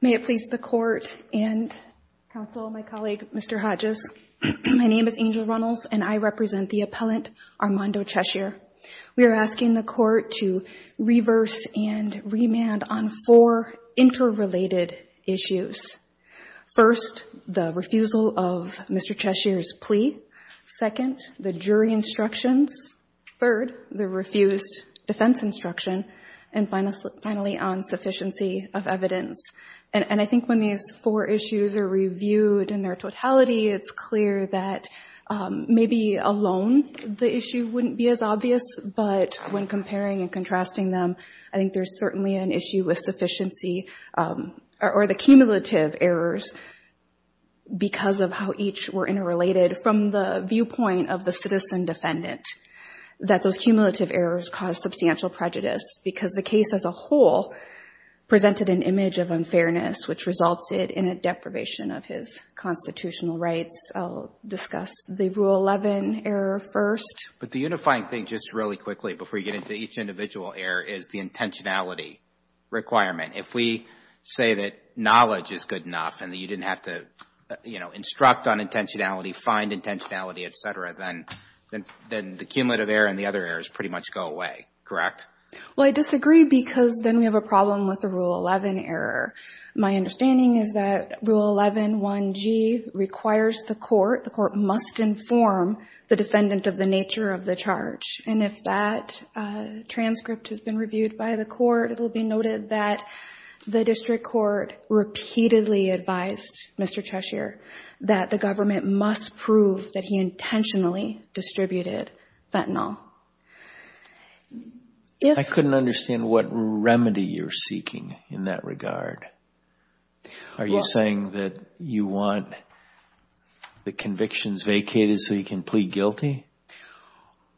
May it please the court and counsel, my colleague Mr. Hodges. My name is Angel Runnels and I represent the appellant Armando Cheshier. We are asking the court to reverse and remand on four interrelated issues. First, the refusal of Mr. Cheshier's plea. Second, the jury instructions. Third, the refused defense instruction. And finally, on sufficiency of evidence. And I think when these four issues are reviewed in their totality, it's clear that maybe alone the issue wouldn't be as obvious, but when comparing and contrasting them, I think there's certainly an issue with sufficiency or the cumulative errors because of how each were interrelated from the viewpoint of the citizen defendant, that those cumulative errors cause substantial prejudice because the case as a whole presented an image of unfairness which resulted in a deprivation of his constitutional rights. I'll discuss the Rule 11 error first. But the unifying thing just really quickly before you get into each individual error is the intentionality requirement. If we say that knowledge is good enough and that you didn't have to, you know, instruct on intentionality, find intentionality, et cetera, then the cumulative error and the other errors pretty much go away, correct? Well, I disagree because then we have a problem with the Rule 11 error. My understanding is that Rule 11-1G requires the court, the court must inform the defendant of the nature of the charge. And if that transcript has been reviewed by the court, it will be noted that the district court repeatedly advised Mr. Cheshire that the government must prove that he intentionally distributed fentanyl. I couldn't understand what remedy you're seeking in that regard. Are you saying that you want the convictions vacated so you can plead guilty?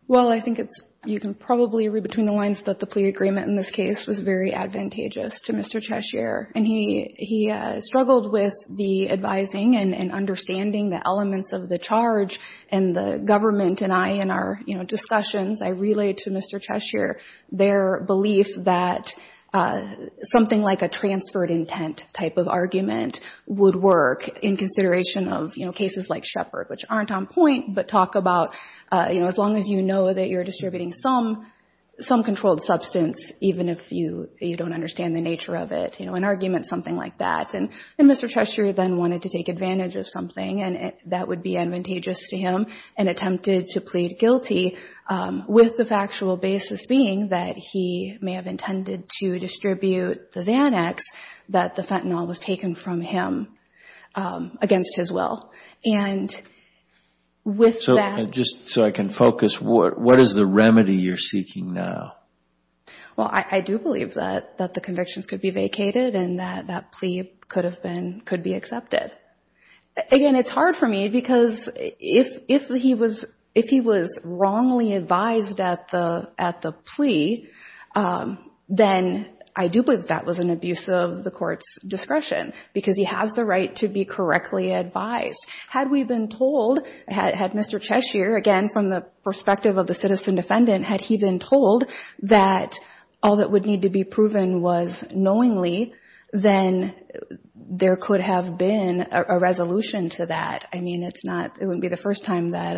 Well, I think it's, you can probably read between the lines that the plea agreement in this case was very advantageous to Mr. Cheshire. And he struggled with the advising and understanding the elements of the charge and the government and I in our, you know, relayed to Mr. Cheshire their belief that something like a transferred intent type of argument would work in consideration of, you know, cases like Shepard, which aren't on point but talk about, you know, as long as you know that you're distributing some controlled substance even if you don't understand the nature of it, you know, an argument something like that. And Mr. Cheshire then wanted to take advantage of something and that would be advantageous to him and attempted to plead guilty with the factual basis being that he may have intended to distribute the Xanax that the fentanyl was taken from him against his will. And with that... So, just so I can focus, what is the remedy you're seeking now? Well, I do believe that the convictions could be vacated and that that plea could have been, could be accepted. Again, it's hard for me because if he was wrongly advised at the plea, then I do believe that was an abuse of the court's discretion because he has the right to be correctly advised. Had we been told, had Mr. Cheshire, again, from the perspective of the citizen defendant, had he been told that all that would need to be proven was knowingly, then there could have been a resolution to that. I mean, it's not, it wouldn't be the first time that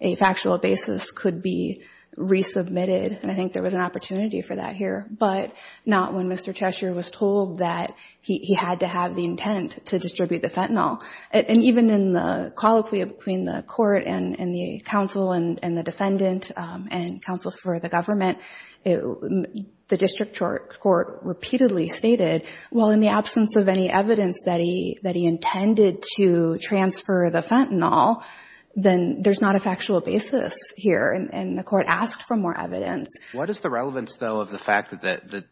a factual basis could be resubmitted. And I think there was an opportunity for that here, but not when Mr. Cheshire was told that he had to have the intent to distribute the fentanyl. And even in the colloquy between the court and the counsel and the defendant and counsel for the government, the district court repeatedly stated, well, in the absence of any evidence that he, that he intended to transfer the fentanyl, then there's not a factual basis here. And the court asked for more evidence. What is the relevance, though, of the fact that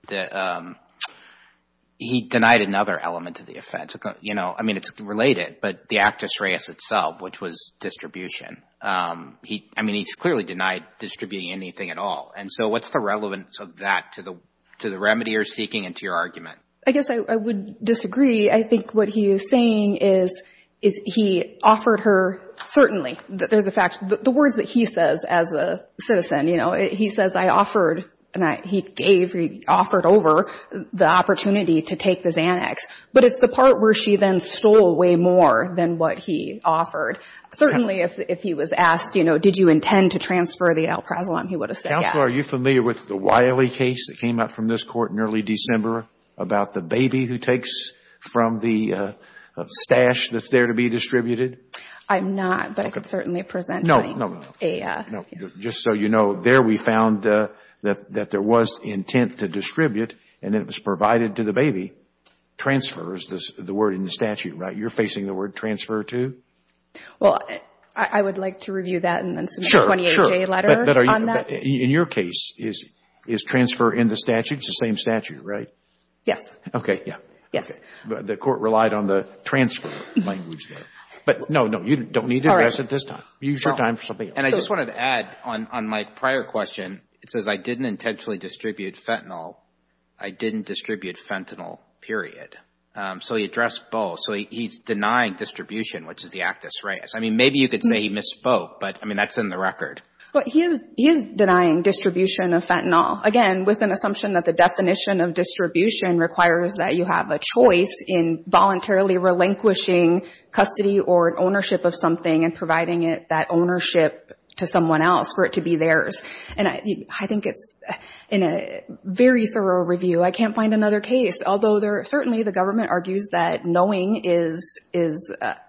he denied another element to the offense? You know, I mean, it's related, but the actus reus itself, which was distribution. I mean, he's clearly denied distributing anything at all. And so what's the relevance of that to the remedy you're seeking and to your argument? I guess I would disagree. I think what he is saying is, is he offered her, certainly, there's a fact, the words that he says as a citizen, you know, he says, I offered, and he gave, he offered over the opportunity to take the Xanax. But it's the part where she then stole way more than what he offered. Certainly, if he was asked, you know, did you intend to transfer the Alprazolam, he would have said yes. Counsel, are you familiar with the Wiley case that came up from this court in early December about the baby who takes from the stash that's there to be distributed? I'm not, but I could certainly present a... No, no, no. Just so you know, there we found that there was intent to distribute, and it was provided to the baby. Transfer is the word in the statute, right? You're facing the word transfer to? Well, I would like to review that and then submit a 28-J letter on that. Sure, sure. But in your case, is transfer in the statute, it's the same statute, right? Yes. Okay, yeah. Yes. The court relied on the transfer language there. But no, no, you don't need to address it this time. Use your time for something else. And I just wanted to add on my prior question, it says I didn't intentionally distribute fentanyl. I didn't distribute fentanyl, period. So he addressed both. So he's denying distribution, which is the actus reus. I mean, maybe you could say he misspoke, but I mean, that's in the record. But he is denying distribution of fentanyl. Again, with an assumption that the definition of distribution requires that you have a choice in voluntarily relinquishing custody or an ownership of something and providing it, that ownership to someone else for it to be theirs. And I think it's in a very thorough review. I can't find another case, although certainly the government argues that knowing is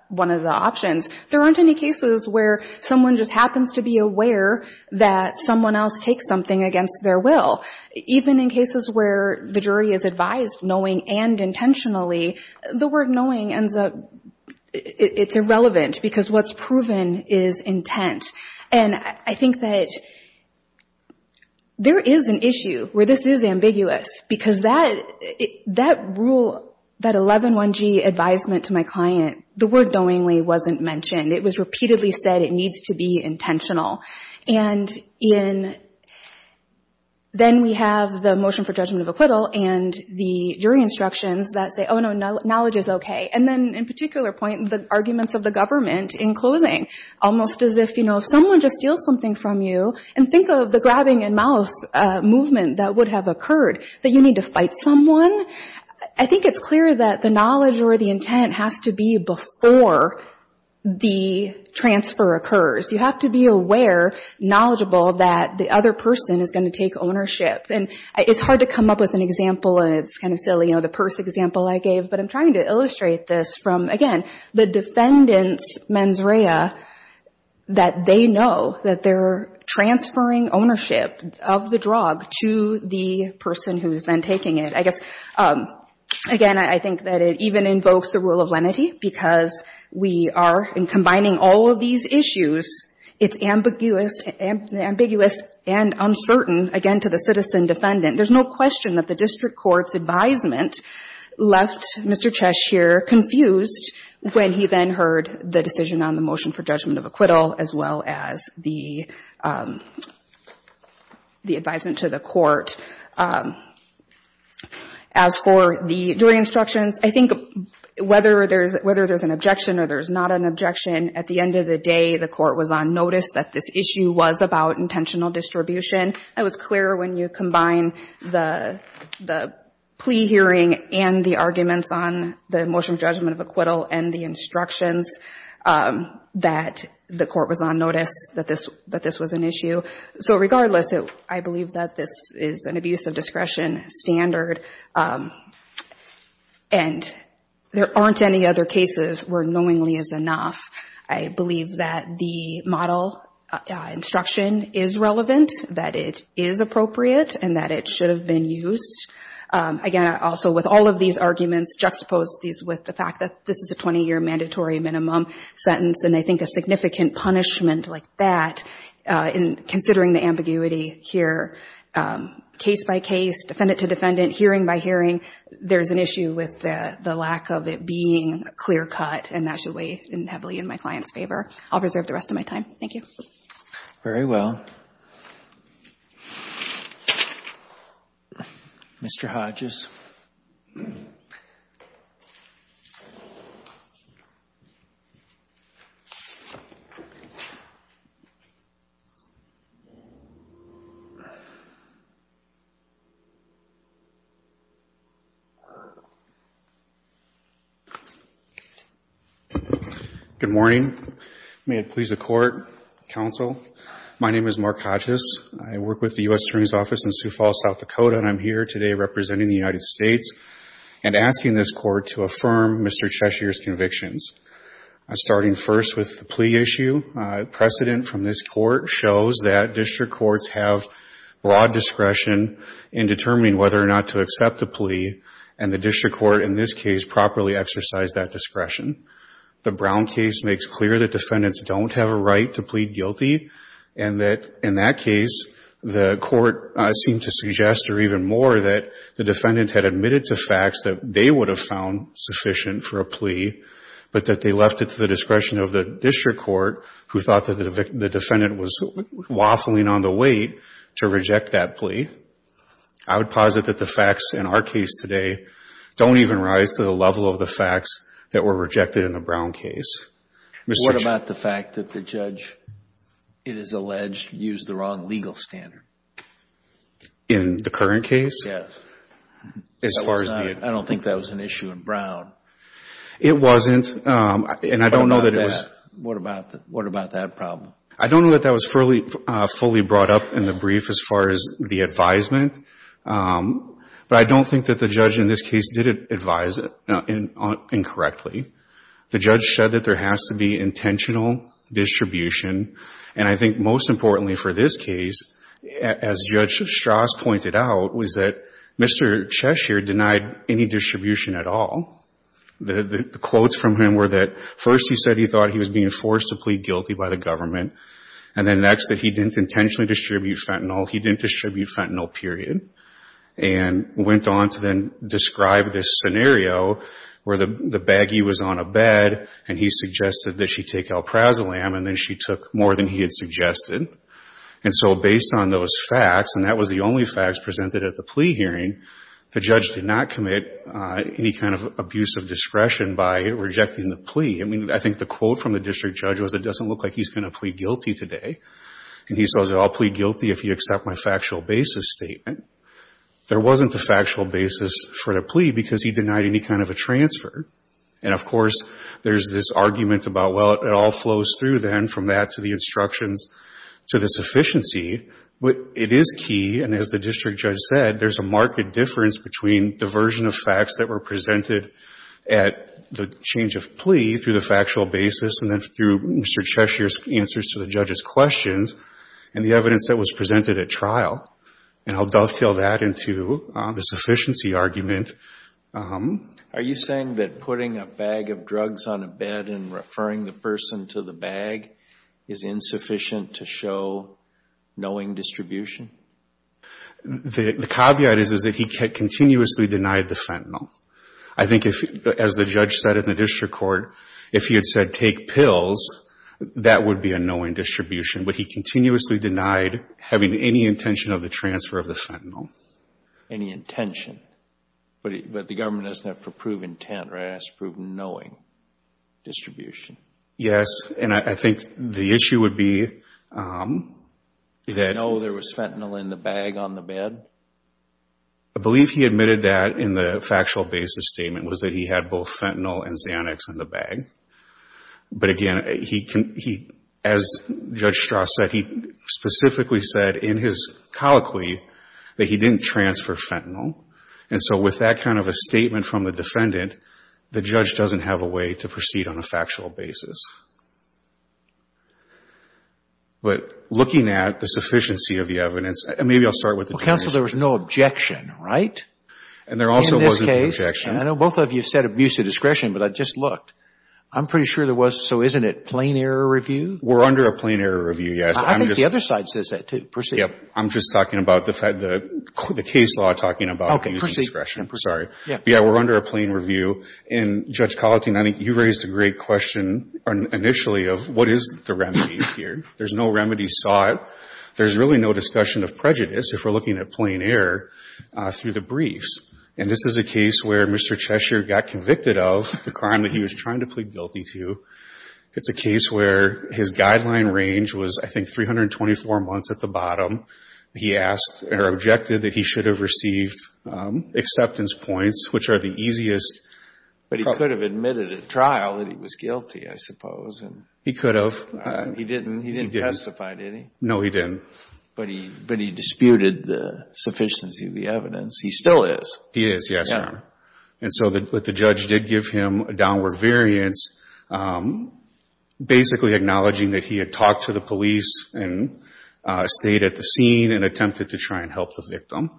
one of the options. There aren't any cases where someone just happens to be aware that someone else takes something against their will. Even in cases where the jury is advised knowing and intentionally, the word knowing ends up it's irrelevant because what's proven is intent. And I think that there is an issue where this is ambiguous because that rule, that 11-1G advisement to my client, the word knowingly wasn't mentioned. It was repeatedly said it needs to be intentional. And then we have the motion for judgment of acquittal and the jury instructions that say, oh, no, knowledge is okay. And then in particular point, the arguments of the government in closing, almost as if, you know, if someone just steals something from you, and think of the grabbing and mouth movement that would have occurred, that you need to fight someone. I think it's clear that the knowledge or the intent has to be before the transfer occurs. You have to be aware, knowledgeable, that the other person is going to take ownership. And it's hard to come up with an example, and it's kind of silly, you know, the purse example I gave, but I'm trying to illustrate this from, again, the defendant's mens rea, that they know that they're transferring ownership of the drug to the person who's then taking it. I guess, again, I think that it even invokes the rule of lenity because we are, in combining all of these issues, it's ambiguous and uncertain, again, to the citizen defendant. There's no question that the district court's advisement left Mr. Cheshier confused when he then heard the decision on the motion for judgment of acquittal, as well as the advisement to the court. As for the jury instructions, I think whether there's an objection or there's not an objection, at the end of the day, the court was on notice that this issue was about intentional distribution. It was clear when you combine the plea hearing and the arguments on the motion judgment of acquittal and the instructions that the court was on notice that this was an issue. So regardless, I believe that this is an abuse of discretion standard, and there aren't any other cases where knowingly is enough. I believe that the model instruction is relevant, that it is appropriate, and that it should have been used. Again, also, with all of these arguments, juxtapose these with the fact that this is a 20-year mandatory minimum sentence, and I think a significant punishment like that, considering the ambiguity here, case by case, defendant to defendant, hearing by hearing, there's an issue with the lack of it being clear-cut, and that should weigh heavily in my client's favor. I'll reserve that for now. Mr. Hodges. MR. HODGES. Good morning. May it please the Court, Counsel, my name is Mark Hodges. I work with the United States, and asking this Court to affirm Mr. Cheshire's convictions. Starting first with the plea issue, precedent from this Court shows that district courts have broad discretion in determining whether or not to accept a plea, and the district court in this case properly exercised that discretion. The Brown case makes clear that defendants don't have a right to plead guilty, and that in that case, the Court seemed to suggest or even more that the defendant had admitted to facts that they would have found sufficient for a plea, but that they left it to the discretion of the district court, who thought that the defendant was waffling on the wait to reject that plea. I would posit that the facts in our case today don't even rise to the level of the facts that were rejected in the Brown case. Mr. Cheshire. JUSTICE SCALIA. What about the fact that the judge, it is alleged, used the wrong legal standard? MR. HODGES. In the current case? JUSTICE SCALIA. Yes. MR. HODGES. As far as the... JUSTICE SCALIA. I don't think that was an issue in Brown. MR. HODGES. It wasn't, and I don't know that it was... JUSTICE SCALIA. What about that? What about that problem? MR. HODGES. I don't know that that was fully brought up in the brief as far as the advisement, but I don't think that the judge in this case did advise incorrectly. The judge said that there has to be intentional distribution, and I think most importantly for this case, as Judge Strauss pointed out, was that Mr. Cheshire denied any distribution at all. The quotes from him were that first he said he thought he was being forced to plead guilty by the government, and then next that he didn't intentionally distribute fentanyl, he didn't distribute fentanyl, period, and went on to then describe this scenario where the baggie was on a bed, and he suggested that she take Alprazolam, and then she took more than he had suggested. And so based on those facts, and that was the only facts presented at the plea hearing, the judge did not commit any kind of abuse of discretion by rejecting the plea. I mean, I think the quote from the district judge was, it doesn't look like he's going to plead guilty today. And he says, I'll plead guilty if you accept my factual basis statement. There wasn't a factual basis for the plea because he denied any kind of a transfer, and, of course, there's this argument about, well, it all flows through then from that to the instructions to the sufficiency. But it is key, and as the district judge said, there's a marked difference between diversion of facts that were presented at the change of plea through the factual basis and then through Mr. Cheshire's answers to the judge's questions and the evidence that was presented at trial. And I'll dovetail that into the sufficiency argument. Are you saying that putting a bag of drugs on a bed and referring the person to the bag is insufficient to show knowing distribution? The caveat is, is that he continuously denied the fentanyl. I think if, as the judge said in the district court, if he had said take pills, that would be a knowing distribution. But he continuously denied having any intention of the transfer of the fentanyl. Any intention, but the government doesn't have to prove intent, right? It has to prove knowing distribution. Yes, and I think the issue would be that... Did he know there was fentanyl in the bag on the bed? I believe he admitted that in the factual basis statement was that he had both fentanyl and Xanax in the bag. But again, as Judge Strauss said, he specifically said in his colloquy that he didn't transfer fentanyl. And so with that kind of a statement from the defendant, the judge doesn't have a way to proceed on a factual basis. But looking at the sufficiency of the evidence, and maybe I'll start with the... Well, counsel, there was no objection, right? And there also wasn't an objection. In this case, I know both of you said abuse of discretion, but I just looked. I'm pretty sure there was. So isn't it plain error review? We're under a plain error review, yes. I think the other side says that too, proceed. Yep. I'm just talking about the case law talking about abuse of discretion. Sorry. Yeah, we're under a plain review. And Judge Collettine, you raised a great question initially of what is the remedy here. There's no remedy sought. There's really no discussion of prejudice, if we're looking at plain error, through the briefs. And this is a case where Mr. Cheshire got convicted of the crime that he was trying to plead guilty to. It's a case where his guideline range was, I think, 124 months at the bottom. He asked, or objected, that he should have received acceptance points, which are the easiest... But he could have admitted at trial that he was guilty, I suppose. He could have. He didn't testify, did he? No, he didn't. But he disputed the sufficiency of the evidence. He still is. He is, yes, Your Honor. And so the judge did give him a downward variance, basically acknowledging that he had talked to the police and stayed at the scene and attempted to try and help the victim.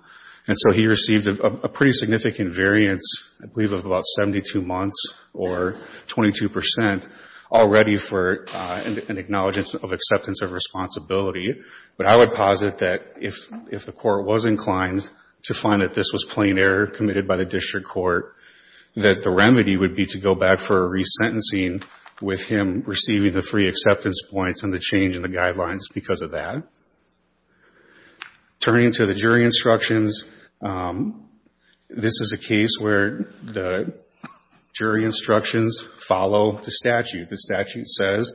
And so he received a pretty significant variance, I believe of about 72 months or 22 percent, already for an acknowledgment of acceptance of responsibility. But I would posit that if the court was inclined to find that this was plain error committed by the district court, that the remedy would be to go back for a resentencing with him receiving the three acceptance points and the change in the guidelines because of that. Turning to the jury instructions, this is a case where the jury instructions follow the statute. The statute says,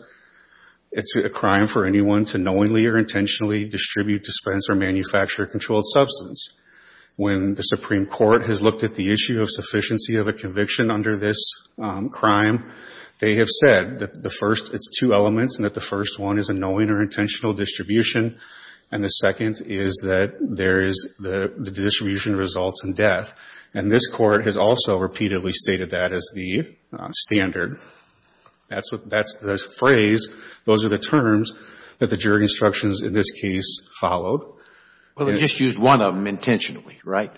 it's a crime for anyone to knowingly or intentionally distribute, dispense, or manufacture a controlled substance. When the Supreme Court has looked at the issue of sufficiency of a conviction under this crime, they have said that the first, it's two elements, and that the first one is a knowing or intentional distribution. And the second is that there is the distribution results in death. And this court has also repeatedly stated that as the standard. That's the phrase, those are the terms that the jury instructions in this case followed. Well, they just used one of them intentionally, right?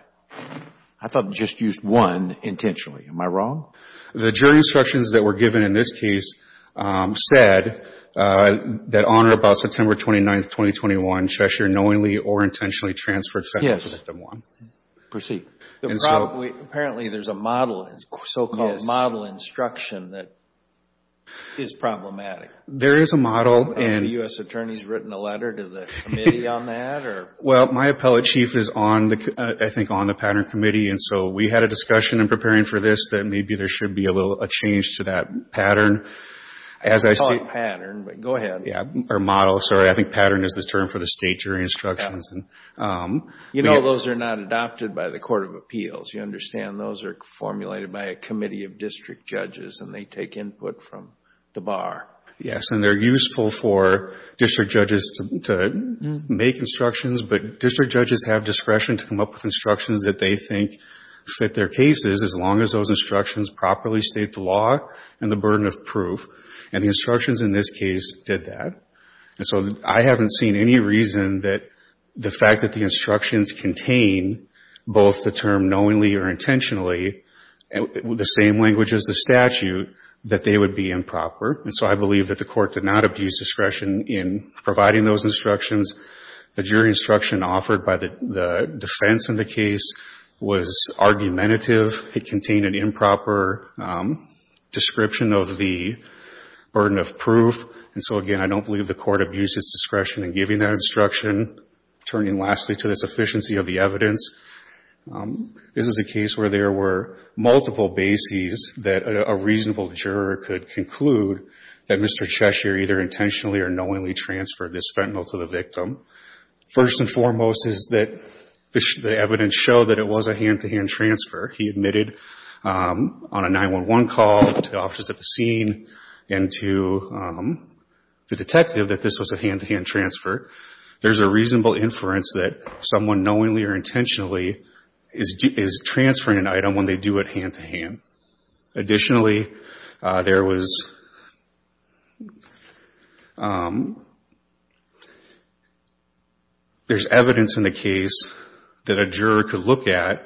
I thought they just used one intentionally. Am I wrong? The jury instructions that were given in this case said that on or about September 29th, 2021, Cheshire knowingly or intentionally transferred second victim one. Proceed. Apparently there's a model, so-called model instruction that is problematic. There is a model. Have the U.S. attorneys written a letter to the committee on that? Well, my appellate chief is on the, I think on the pattern committee. And so we had a discussion in preparing for this that maybe there should be a little, a change to that pattern as I see. It's not a pattern, but go ahead. Yeah, or model, sorry. I think pattern is the term for the state jury instructions. Yeah. You know those are not adopted by the court of appeals. You understand those are formulated by a committee of district judges and they take input from the bar. Yes. And they're useful for district judges to make instructions, but district judges have discretion to come up with instructions that they think fit their cases as long as those instructions properly state the law and the burden of proof. And the instructions in this case did that. And so I haven't seen any reason that the fact that the instructions contain both the term knowingly or intentionally, the same language as the statute, that they would be improper. And so I believe that the court did not abuse discretion in providing those instructions. The jury instruction offered by the defense in the case was argumentative. It contained an improper description of the burden of proof. And so again, I don't believe the court abused its discretion in giving that instruction. Turning lastly to the sufficiency of the evidence, this is a case where there were multiple bases that a reasonable juror could conclude that Mr. Cheshire either intentionally or knowingly transferred this fentanyl to the victim. First and foremost is that the evidence showed that it was a hand-to-hand transfer. He admitted on a 911 call to the officers at the scene and to the detective that this was a hand-to-hand transfer. There's a reasonable inference that someone knowingly or intentionally is transferring an item when they do it hand-to-hand. Additionally, there's evidence in the case that a juror could look at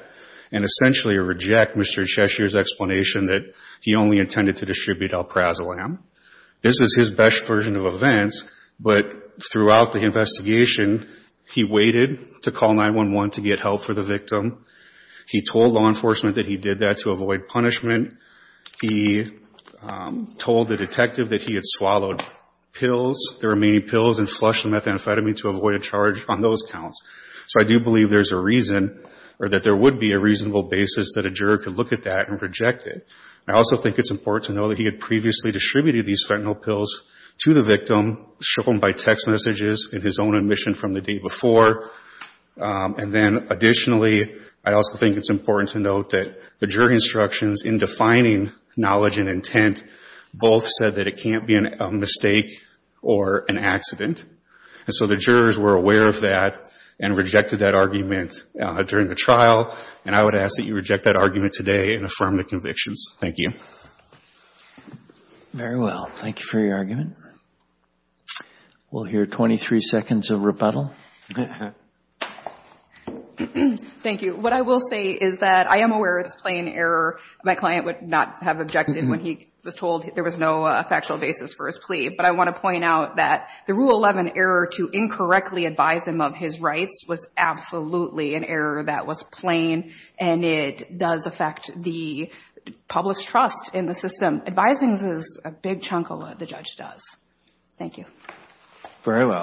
and essentially reject Mr. Cheshire's explanation that he only intended to distribute alprazolam. This is his best version of events, but throughout the investigation, he waited to call 911 to get help for the victim. He told law enforcement that he did that to avoid punishment. He told the detective that he had swallowed pills, the remaining pills, and flushed the methamphetamine to avoid a charge on those counts. So I do believe there's a reason or that there would be a reasonable basis that a juror could look at that and reject it. I also think it's important to know that he had previously distributed these fentanyl pills to the victim, shown by text messages in his own admission from the day before. And then additionally, I also think it's important to note that the jury instructions in defining knowledge and intent both said that it can't be a mistake or an accident. And so the jurors were aware of that and rejected that argument during the And I would ask that you reject that argument today and affirm the convictions. Thank you. Very well. Thank you for your argument. We'll hear 23 seconds of rebuttal. Thank you. What I will say is that I am aware it's plain error. My client would not have objected when he was told there was no factual basis for his plea. But I want to point out that the Rule 11 error to incorrectly advise him of his rights was absolutely an error that was plain, and it does affect the public's trust in the system. Advising is a big chunk of what the judge does. Thank you. Very well.